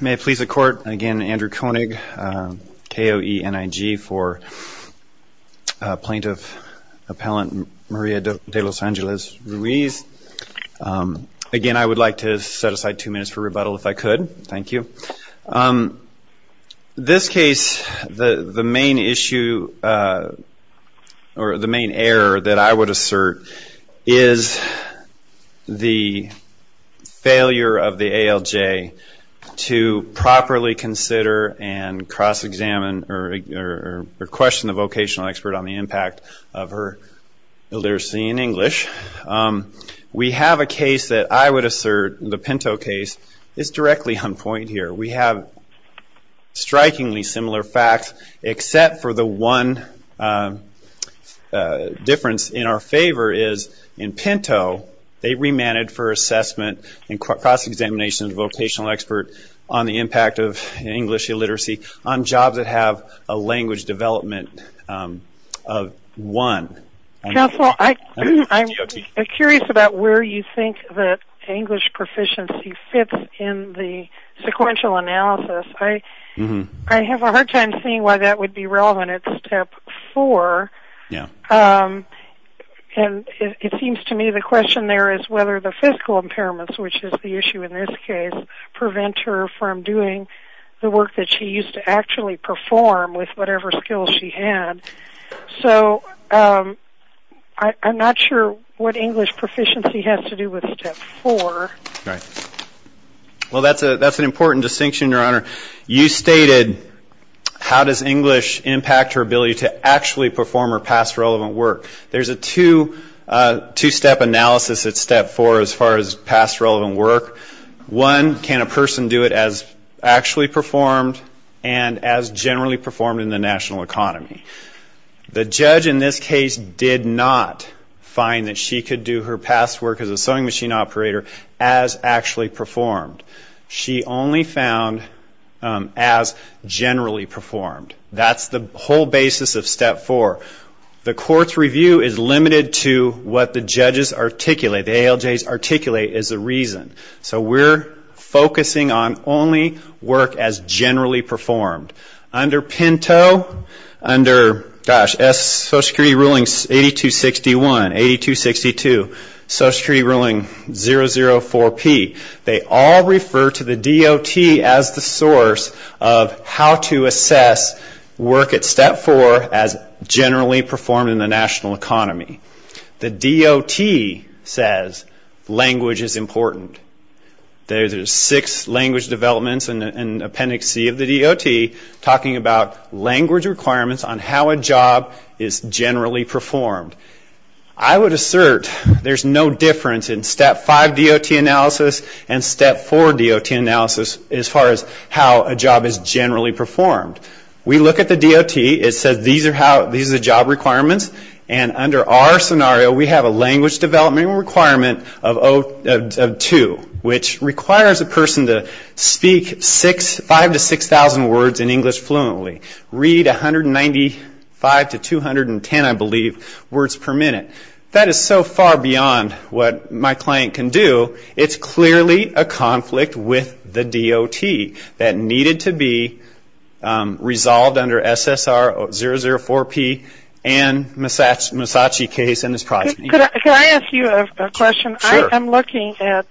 May it please the court, again Andrew Koenig, K-O-E-N-I-G for Plaintiff Appellant Maria de Los Angeles Ruiz. Again, I would like to set aside two minutes for rebuttal if I could. Thank you. This case, the main issue or the main error that I would assert is the failure of the ALJ to properly consider and cross examine or question the vocational expert on the impact of her illiteracy in English. We have a case that I would assert, the Pinto case is directly on point here. We have strikingly similar facts except for the one difference in our favor is in Pinto, they remanded for assessment and cross examination of the vocational expert on the impact of English illiteracy on jobs that have a language development of 1. Counsel, I'm curious about where you think that English proficiency fits in the sequential analysis. I have a hard time seeing why that would be relevant at step four. It seems to me the question there is whether the physical impairments, which is the issue in this case, prevent her from doing the work that she used to actually perform with whatever skills she had. I'm not sure what English proficiency has to do with step four. That's an important distinction, your honor. You stated, how does English impact her ability to actually perform her past relevant work? There's a two-step analysis at step four as far as past relevant work. One, can a person do it as actually performed and as generally performed in the national economy? The judge in this case did not find that she could do her past work as a sewing machine operator as actually performed. She only found as generally performed. That's the whole basis of step four. The court's review is limited to what the judges articulate, the ALJs articulate is the reason. We're focusing on only work as generally performed. Under Pinto, under Social Security Ruling 8261, 8262, Social Security Ruling 004P, they all refer to the DOT as the source of how to assess work at step four as generally performed in the national economy. The DOT says language is important. There's six language developments in Appendix C of the DOT talking about language requirements on how a job is generally performed. I would assert there's no difference in step five DOT analysis and step four DOT analysis as far as how a job is generally performed. We look at the DOT, it says these are job requirements and under our scenario we have a language development requirement of 02, which requires a person to speak 5,000 to 6,000 words in English fluently, read 195 to 210, I believe, words per minute. That is so far beyond what my client can do. It's clearly a conflict with the DOT that needed to be resolved under SSR 004P and Musashi case in this project. Can I ask you a question? I'm looking at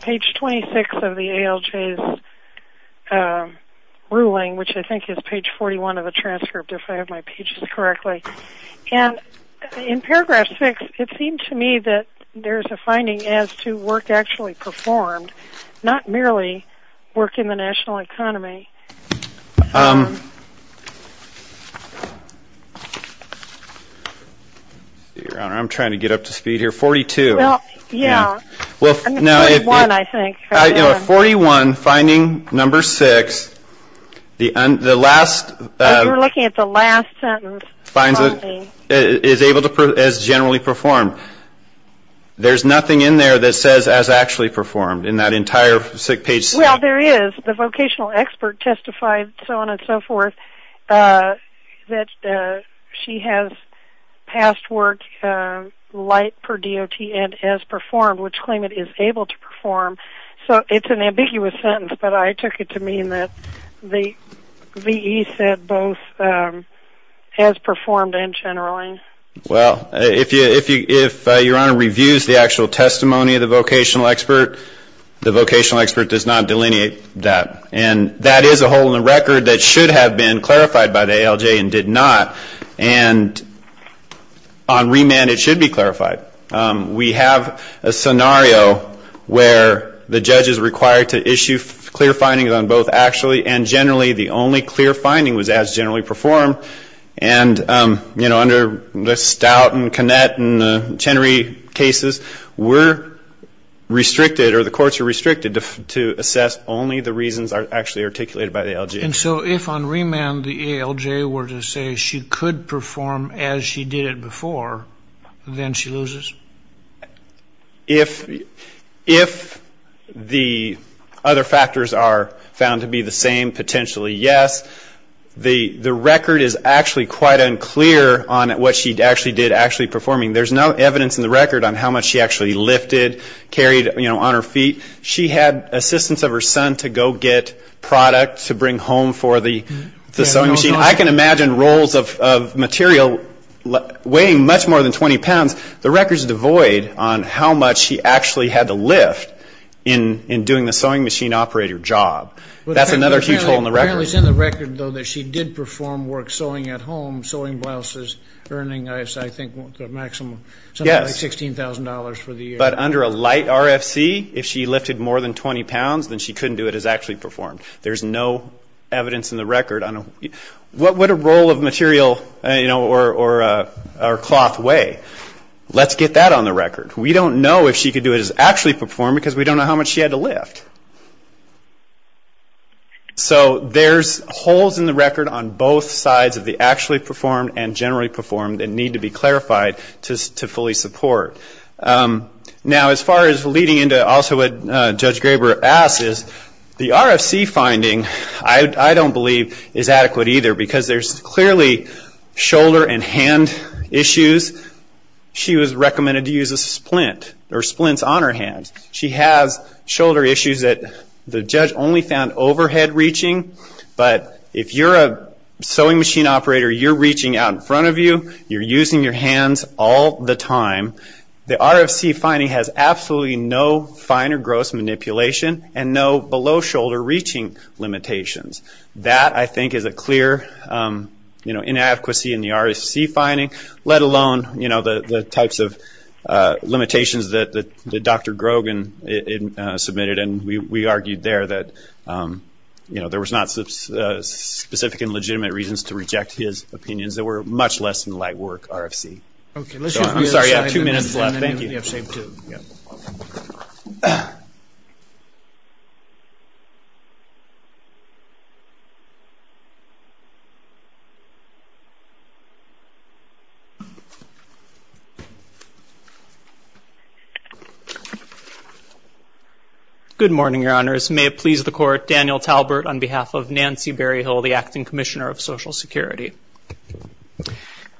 page 26 of the ALJ's ruling, which I think is page 41 of the transcript, if I have my pages correctly. In paragraph 6, it seemed to me that there's a finding as to work actually performed, not merely work in the national I'm trying to get up to speed here. 42. Yeah. 41, I think. 41, finding number 6, the last We're looking at the last sentence. Is able to, as generally performed. There's nothing in there that says as actually performed in that entire sick page. Well, there is. The light per DOT and as performed, which claim it is able to perform. So it's an ambiguous sentence, but I took it to mean that the VE said both as performed and generally. Well, if your Honor reviews the actual testimony of the vocational expert, the vocational expert does not delineate that. And that is a hole in the record that should have been clarified by the ALJ and did not. And on remand, it should be clarified. We have a scenario where the judge is required to issue clear findings on both actually and generally. The only clear finding was as generally performed. And, you know, under the Stout and Connett and Chenery cases, we're restricted or the courts are restricted to assess only the reasons actually articulated by the ALJ. And so if on remand the ALJ were to say she could perform as she did it before, then she loses? If the other factors are found to be the same, potentially yes. The record is actually quite unclear on what she actually did actually performing. There's no evidence in the record on how much she actually lifted, carried, you know, on her feet. She had assistance of her son to go get product to bring home for the sewing machine. I can imagine rolls of material weighing much more than 20 pounds. The record is devoid on how much she actually had to lift in doing the sewing machine operator job. That's another huge hole in the record. Apparently it's in the record, though, that she did perform work sewing at home, sewing blouses, earning, I think, a maximum of something like $16,000 for the year. But under a light RFC, if she lifted more than 20 pounds, then she couldn't do it as actually performed. There's no evidence in the record on what would a roll of material, you know, or cloth weigh? Let's get that on the record. We don't know if she could do it as actually performed because we don't know how much she had to lift. So there's holes in the record on both sides of the actually performed and generally performed that need to be clarified to fully support. Now as far as leading into also what Judge Graber asked is the RFC finding, I don't believe is adequate either because there's clearly shoulder and hand issues. She was recommended to use a splint or splints on her hands. She has shoulder issues that the judge only found overhead reaching. But if you're a sewing machine operator, you're reaching out in front of you, you're using your hands all the time. The RFC finding has absolutely no fine or gross manipulation and no below shoulder reaching limitations. That, I think, is a clear, you know, inadequacy in the RFC finding, let alone, you know, the types of limitations that Dr. Grogan submitted and we argued there that, you know, there was not specific and were much less than light work RFC. Good morning, Your Honors. May it please the Court, Daniel Talbert on behalf of Nancy Berryhill, the Acting Commissioner of Social Security.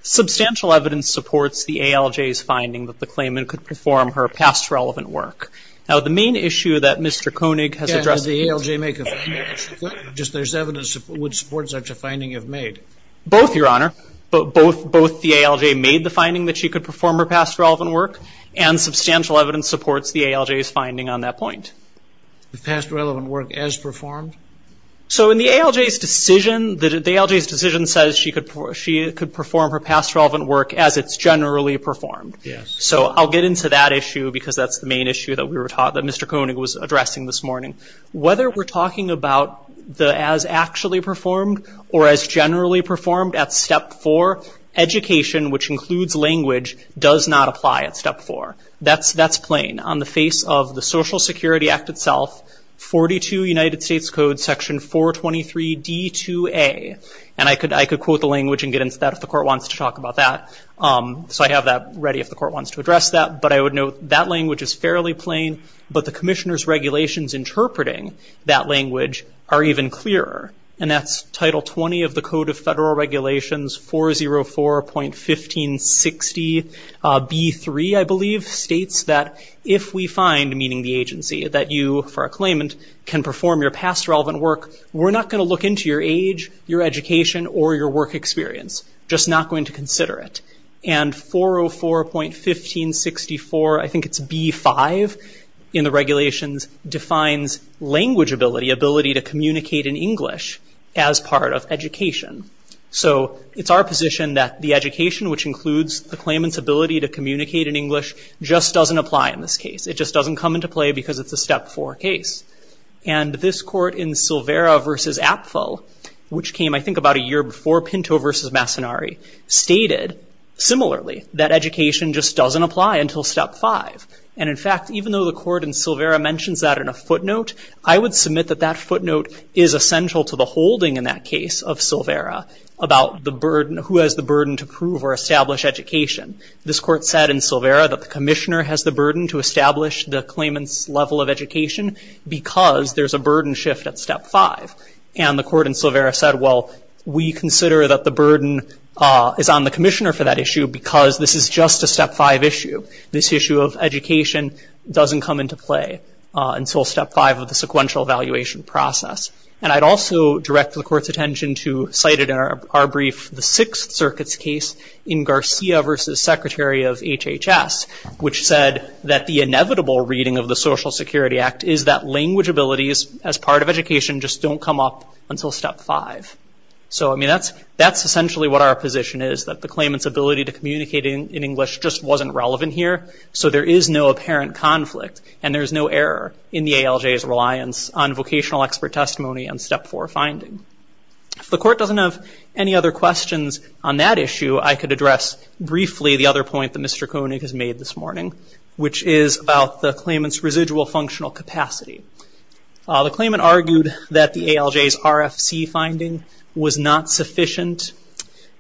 Substantial evidence supports the ALJ's finding that the claimant could perform her past relevant work. Now the main issue that Mr. Koenig has addressed... Does the ALJ make a finding? Just there's evidence that would support such a finding you've made? Both, Your Honor. Both the ALJ made the finding that she could perform her past relevant work and substantial evidence supports the ALJ's finding on that point. The past relevant work as performed? So in the ALJ's decision, the ALJ's decision says she could perform her past relevant work as it's generally performed. So I'll get into that issue because that's the main issue that we were taught, that Mr. Koenig was addressing this morning. Whether we're talking about the as actually performed or as generally performed at Step 4, education, which includes language, does not apply at Step 4. That's plain. On the face of the Social Security Act itself, 42 United States Code section 423D2A, and I could quote the language and get into that if the court wants to talk about that. So I have that ready if the court wants to address that, but I would note that language is fairly plain, but the commissioner's regulations interpreting that language are even clearer. And that's Title 20 of the Code of Federal Regulations 404.1560B3, I believe, states that if we find, meaning the agency, that you, for a claimant, can perform your past relevant work, we're not going to look into your age, your education, or your work experience, just not going to consider it. And 404.1564, I think it's B5 in the regulations, defines language ability, ability to communicate in English as part of education. So it's our position that the education, which includes the claimant's ability to communicate in English, just doesn't apply in this case. It just doesn't come into play because it's a Step 4 case. And this court in Silvera v. Apfel, which came, I think, about a year before Pinto v. Massonari, stated, similarly, that education just doesn't apply until Step 5. And in fact, even though the court in Silvera mentions that in a footnote, I would submit that that footnote is essential to the holding in that case of Silvera about who has the burden to prove or establish education. This court said in Silvera that the commissioner has the burden to establish the claimant's level of education because there's a burden shift at Step 5. And the court in Silvera said, well, we consider that the burden is on the commissioner for that issue because this is just a Step 5 issue. This issue of education doesn't come into play until Step 5 of the sequential evaluation process. And I'd also direct the court's attention to, cited in our brief, the Sixth Circuit's case in Garcia v. Secretary of HHS, which said that the inevitable reading of the Social Security Act is that language abilities as part of education just don't come up until Step 5. So, I mean, that's essentially what our position is, that the claimant's ability to communicate in English just wasn't relevant here. So there is no apparent conflict and there's no error in the ALJ's reliance on vocational expert testimony and Step 4 finding. If the court doesn't have any other questions on that issue, I could address briefly the other point that Mr. Koenig has made this morning, which is about the claimant's residual functional capacity. The claimant argued that the ALJ's RFC finding was not sufficient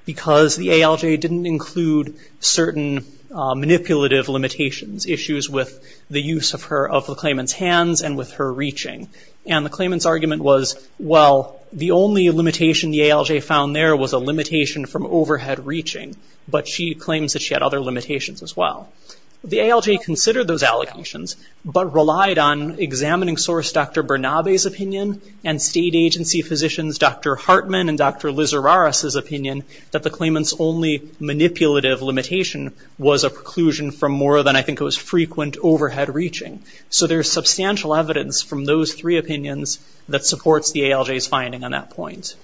because the ALJ didn't include certain manipulative limitations, issues with the use of the claimant's overreaching. And the claimant's argument was, well, the only limitation the ALJ found there was a limitation from overhead reaching, but she claims that she had other limitations as well. The ALJ considered those allegations, but relied on examining source Dr. Bernabe's opinion and state agency physicians Dr. Hartman and Dr. Lizararas' opinion that the claimant's only manipulative limitation was a preclusion from more than I think it was frequent overhead reaching. So there's substantial evidence from those three opinions that supports the ALJ's finding on that point.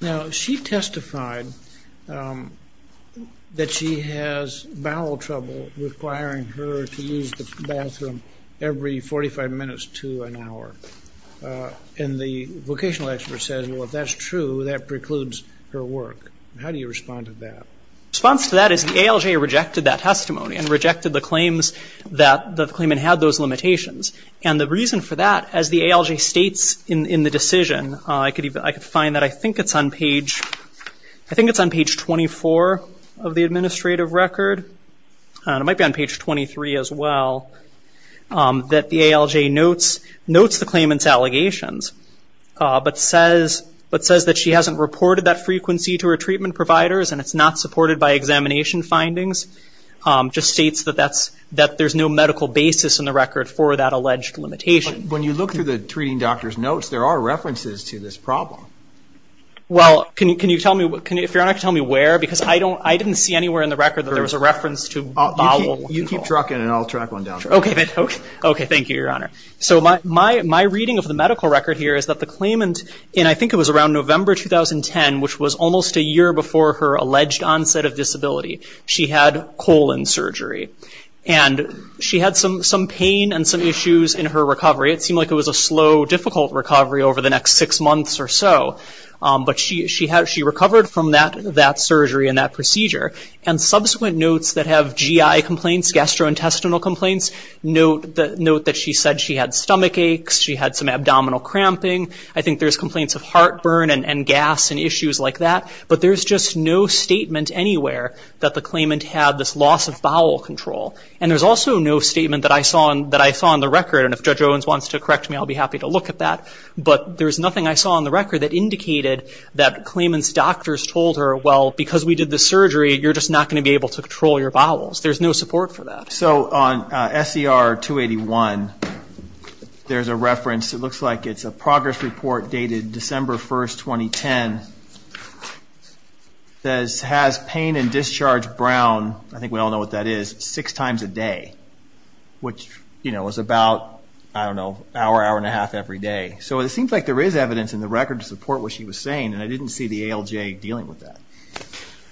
Now she testified that she has bowel trouble requiring her to use the bathroom every 45 minutes to an hour. And the vocational expert says, well, if that's true, that precludes her work. How do you respond to that? Response to that is the ALJ rejected that testimony and rejected the claims that the claimant had those limitations. And the reason for that, as the ALJ states in the decision, I could find that I think it's on page 24 of the administrative record. It might be on page 23 as well, that the ALJ notes the claimant's allegations, but says that she hasn't reported that frequency to her treatment providers and it's not supported by examination basis in the record for that alleged limitation. When you look through the treating doctor's notes, there are references to this problem. Well, can you tell me, if you're not going to tell me where, because I didn't see anywhere in the record that there was a reference to bowel. You keep trucking and I'll track one down. Okay, thank you, Your Honor. So my reading of the medical record here is that the claimant, and I think it was around November 2010, which was almost a year before her alleged onset of disability, she had colon surgery. And she had some pain and some issues in her recovery. It seemed like it was a slow, difficult recovery over the next six months or so. But she recovered from that surgery and that procedure. And subsequent notes that have GI complaints, gastrointestinal complaints, note that she said she had stomach aches, she had some abdominal cramping. I think there's complaints of heartburn and gas and issues like that. But there's just no statement anywhere that the claimant had this loss of bowel control. And there's also no statement that I saw on the record, and if Judge Owens wants to correct me, I'll be happy to look at that. But there's nothing I saw on the record that indicated that claimant's doctors told her, well, because we did this surgery, you're just not going to be able to control your bowels. There's no support for that. So on SCR 281, there's a reference. It looks like it's a progress report dated December 1st, 2010, that has pain and discharge brown, I think we all know what that is, six times a day, which is about, I don't know, hour, hour and a half every day. So it seems like there is evidence in the record to support what she was saying, and I didn't see the ALJ dealing with that.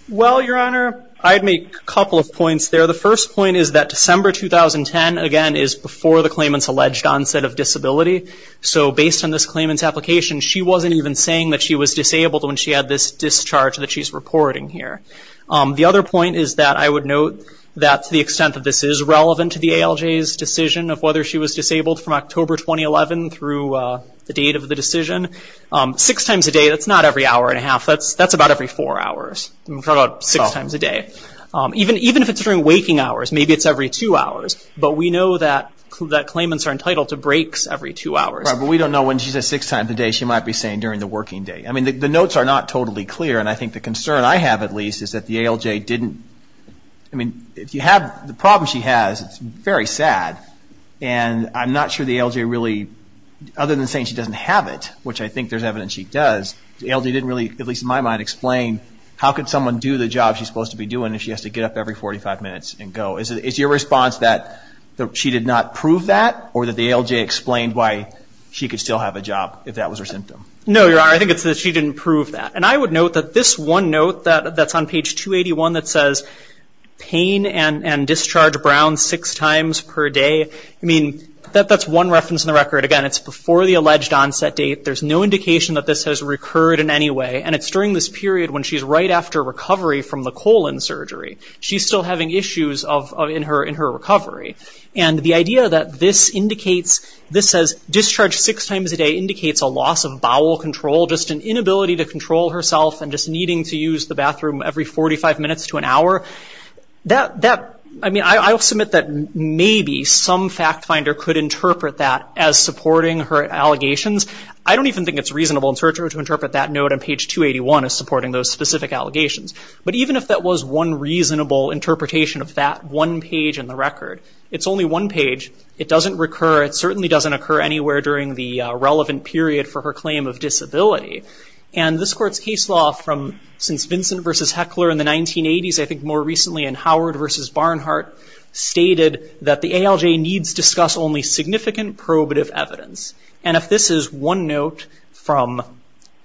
Well, Your Honor, I'd make a couple of points there. The first point is that December 2010, again, is before the claimant's alleged onset of disability. So based on this claimant's application, she wasn't even saying that she was disabled when she had this discharge that she's reporting here. The other point is that I would note that to the extent that this is relevant to the ALJ's decision of whether she was disabled from October 2011 through the date of the decision, six times a day, that's not every hour and a half. That's about every four hours. That's about six times a day. Even if it's during waking hours, maybe it's every two hours. But we know that claimants are entitled to breaks every two hours. Right, but we don't know when she says six times a day. She might be saying during the working day. I mean, the notes are not totally clear, and I think the concern I have at least is that the ALJ didn't, I mean, if you have the problem she has, it's very sad. And I'm not sure the ALJ really, other than saying she doesn't have it, which I think there's evidence she does, the ALJ didn't really, at least in my mind, explain how could someone do the job she's supposed to be doing if she has to get up every 45 minutes and go. Is your response that she did not prove that, or that the ALJ explained why she could still have a job if that was her symptom? No, Your Honor, I think it's that she didn't prove that. And I would note that this one note that's on page 281 that says pain and discharge brown six times per day, I mean, that's one reference in the record. Again, it's before the alleged onset date. There's no indication that this has recurred in any way. And it's during this period when she's right after recovery from the colon surgery. She's still having issues in her recovery. And the idea that this indicates, this says discharge six times a day indicates a loss of bowel control, just an inability to control herself and just needing to use the bathroom every 45 minutes to an hour, that, I mean, I'll submit that maybe some fact finder could interpret that as supporting her allegations. I don't even think it's reasonable in search order to interpret that note on page 281 as supporting those specific allegations. But even if that was one reasonable interpretation of that one page in the record, it's only one page. It doesn't recur. It certainly doesn't occur anywhere during the relevant period for her claim of disability. And this Court's case law from since Vincent v. Heckler in the 1980s, I think more recently in Howard v. Barnhart, stated that the ALJ needs discuss only significant probative evidence. And if this is one note from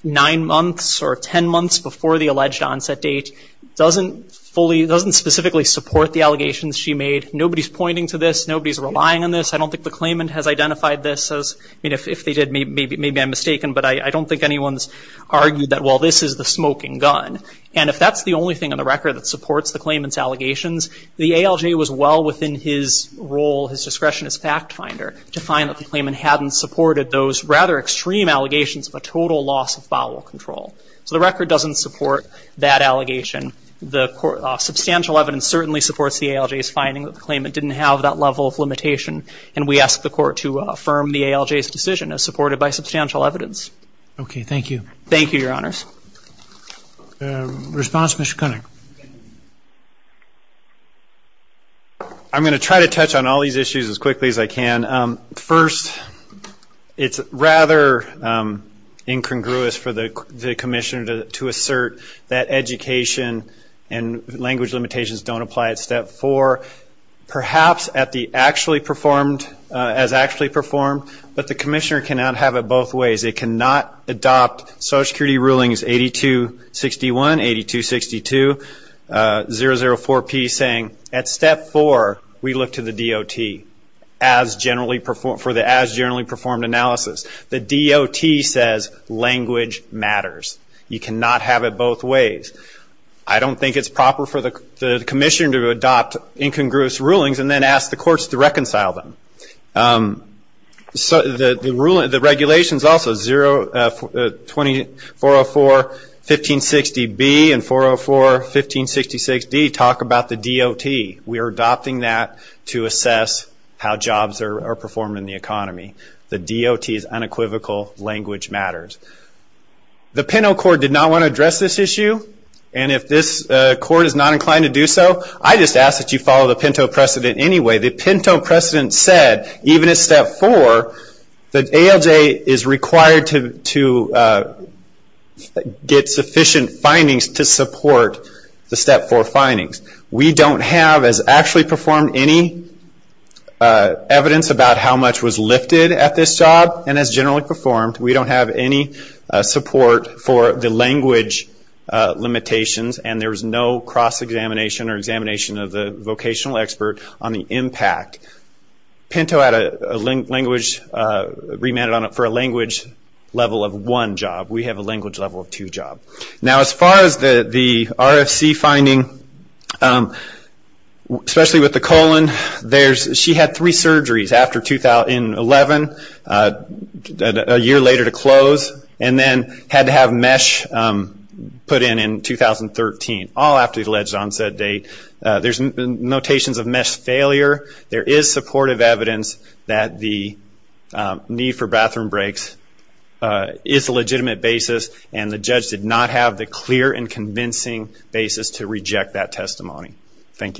nine months or 10 months before the alleged onset date, doesn't specifically support the allegations she made. Nobody's pointing to this. Nobody's relying on this. I don't think the claimant has identified this as, I mean, if they did, maybe I'm mistaken, but I don't think anyone's argued that, well, this is the smoking gun. And if that's the only thing on the record that supports the claimant's allegations, the ALJ was well within his role, his discretion as fact finder to find that the claimant hadn't supported those rather extreme allegations of a total loss of bowel control. So the record doesn't support that allegation. The court, substantial evidence certainly supports the ALJ's finding that the claimant didn't have that level of limitation. And we ask the court to affirm the ALJ's decision as supported by substantial evidence. Okay. Thank you. Thank you, Your Honors. Response, Mr. Koenig. I'm going to try to touch on all these issues as quickly as I can. First, it's rather incongruous for the commissioner to assert that education and language limitations don't apply at step four, perhaps as actually performed, but the commissioner cannot have it both ways. It cannot adopt Social Security rulings 8261, 8262, 004P saying at step four, we look to the DOT for the as generally performed analysis. The DOT says language matters. You cannot have it both ways. I don't think it's proper for the commissioner to adopt incongruous rulings and then ask the courts to reconcile them. The regulations also, 404-1560B and 404-1566D talk about the DOT. We are adopting that to assess how jobs are performed in the economy. The DOT's unequivocal language matters. The Pinto Court did not want to address this issue, and if this court is not inclined to precedent anyway, the Pinto precedent said, even at step four, that ALJ is required to get sufficient findings to support the step four findings. We don't have, as actually performed, any evidence about how much was lifted at this job, and as generally performed, we don't have any support for the language limitations, and there's no cross-examination or examination of the vocational expert on the impact. Pinto had a language, remanded on it for a language level of one job. We have a language level of two jobs. Now as far as the RFC finding, especially with the colon, she had three surgeries in 2011, a year later to close, and then had to have mesh put in in 2013. She had three surgeries in 2013, all after the alleged onset date. There's notations of mesh failure. There is supportive evidence that the need for bathroom breaks is a legitimate basis, and the judge did not have the clear and convincing basis to reject that testimony. Thank you.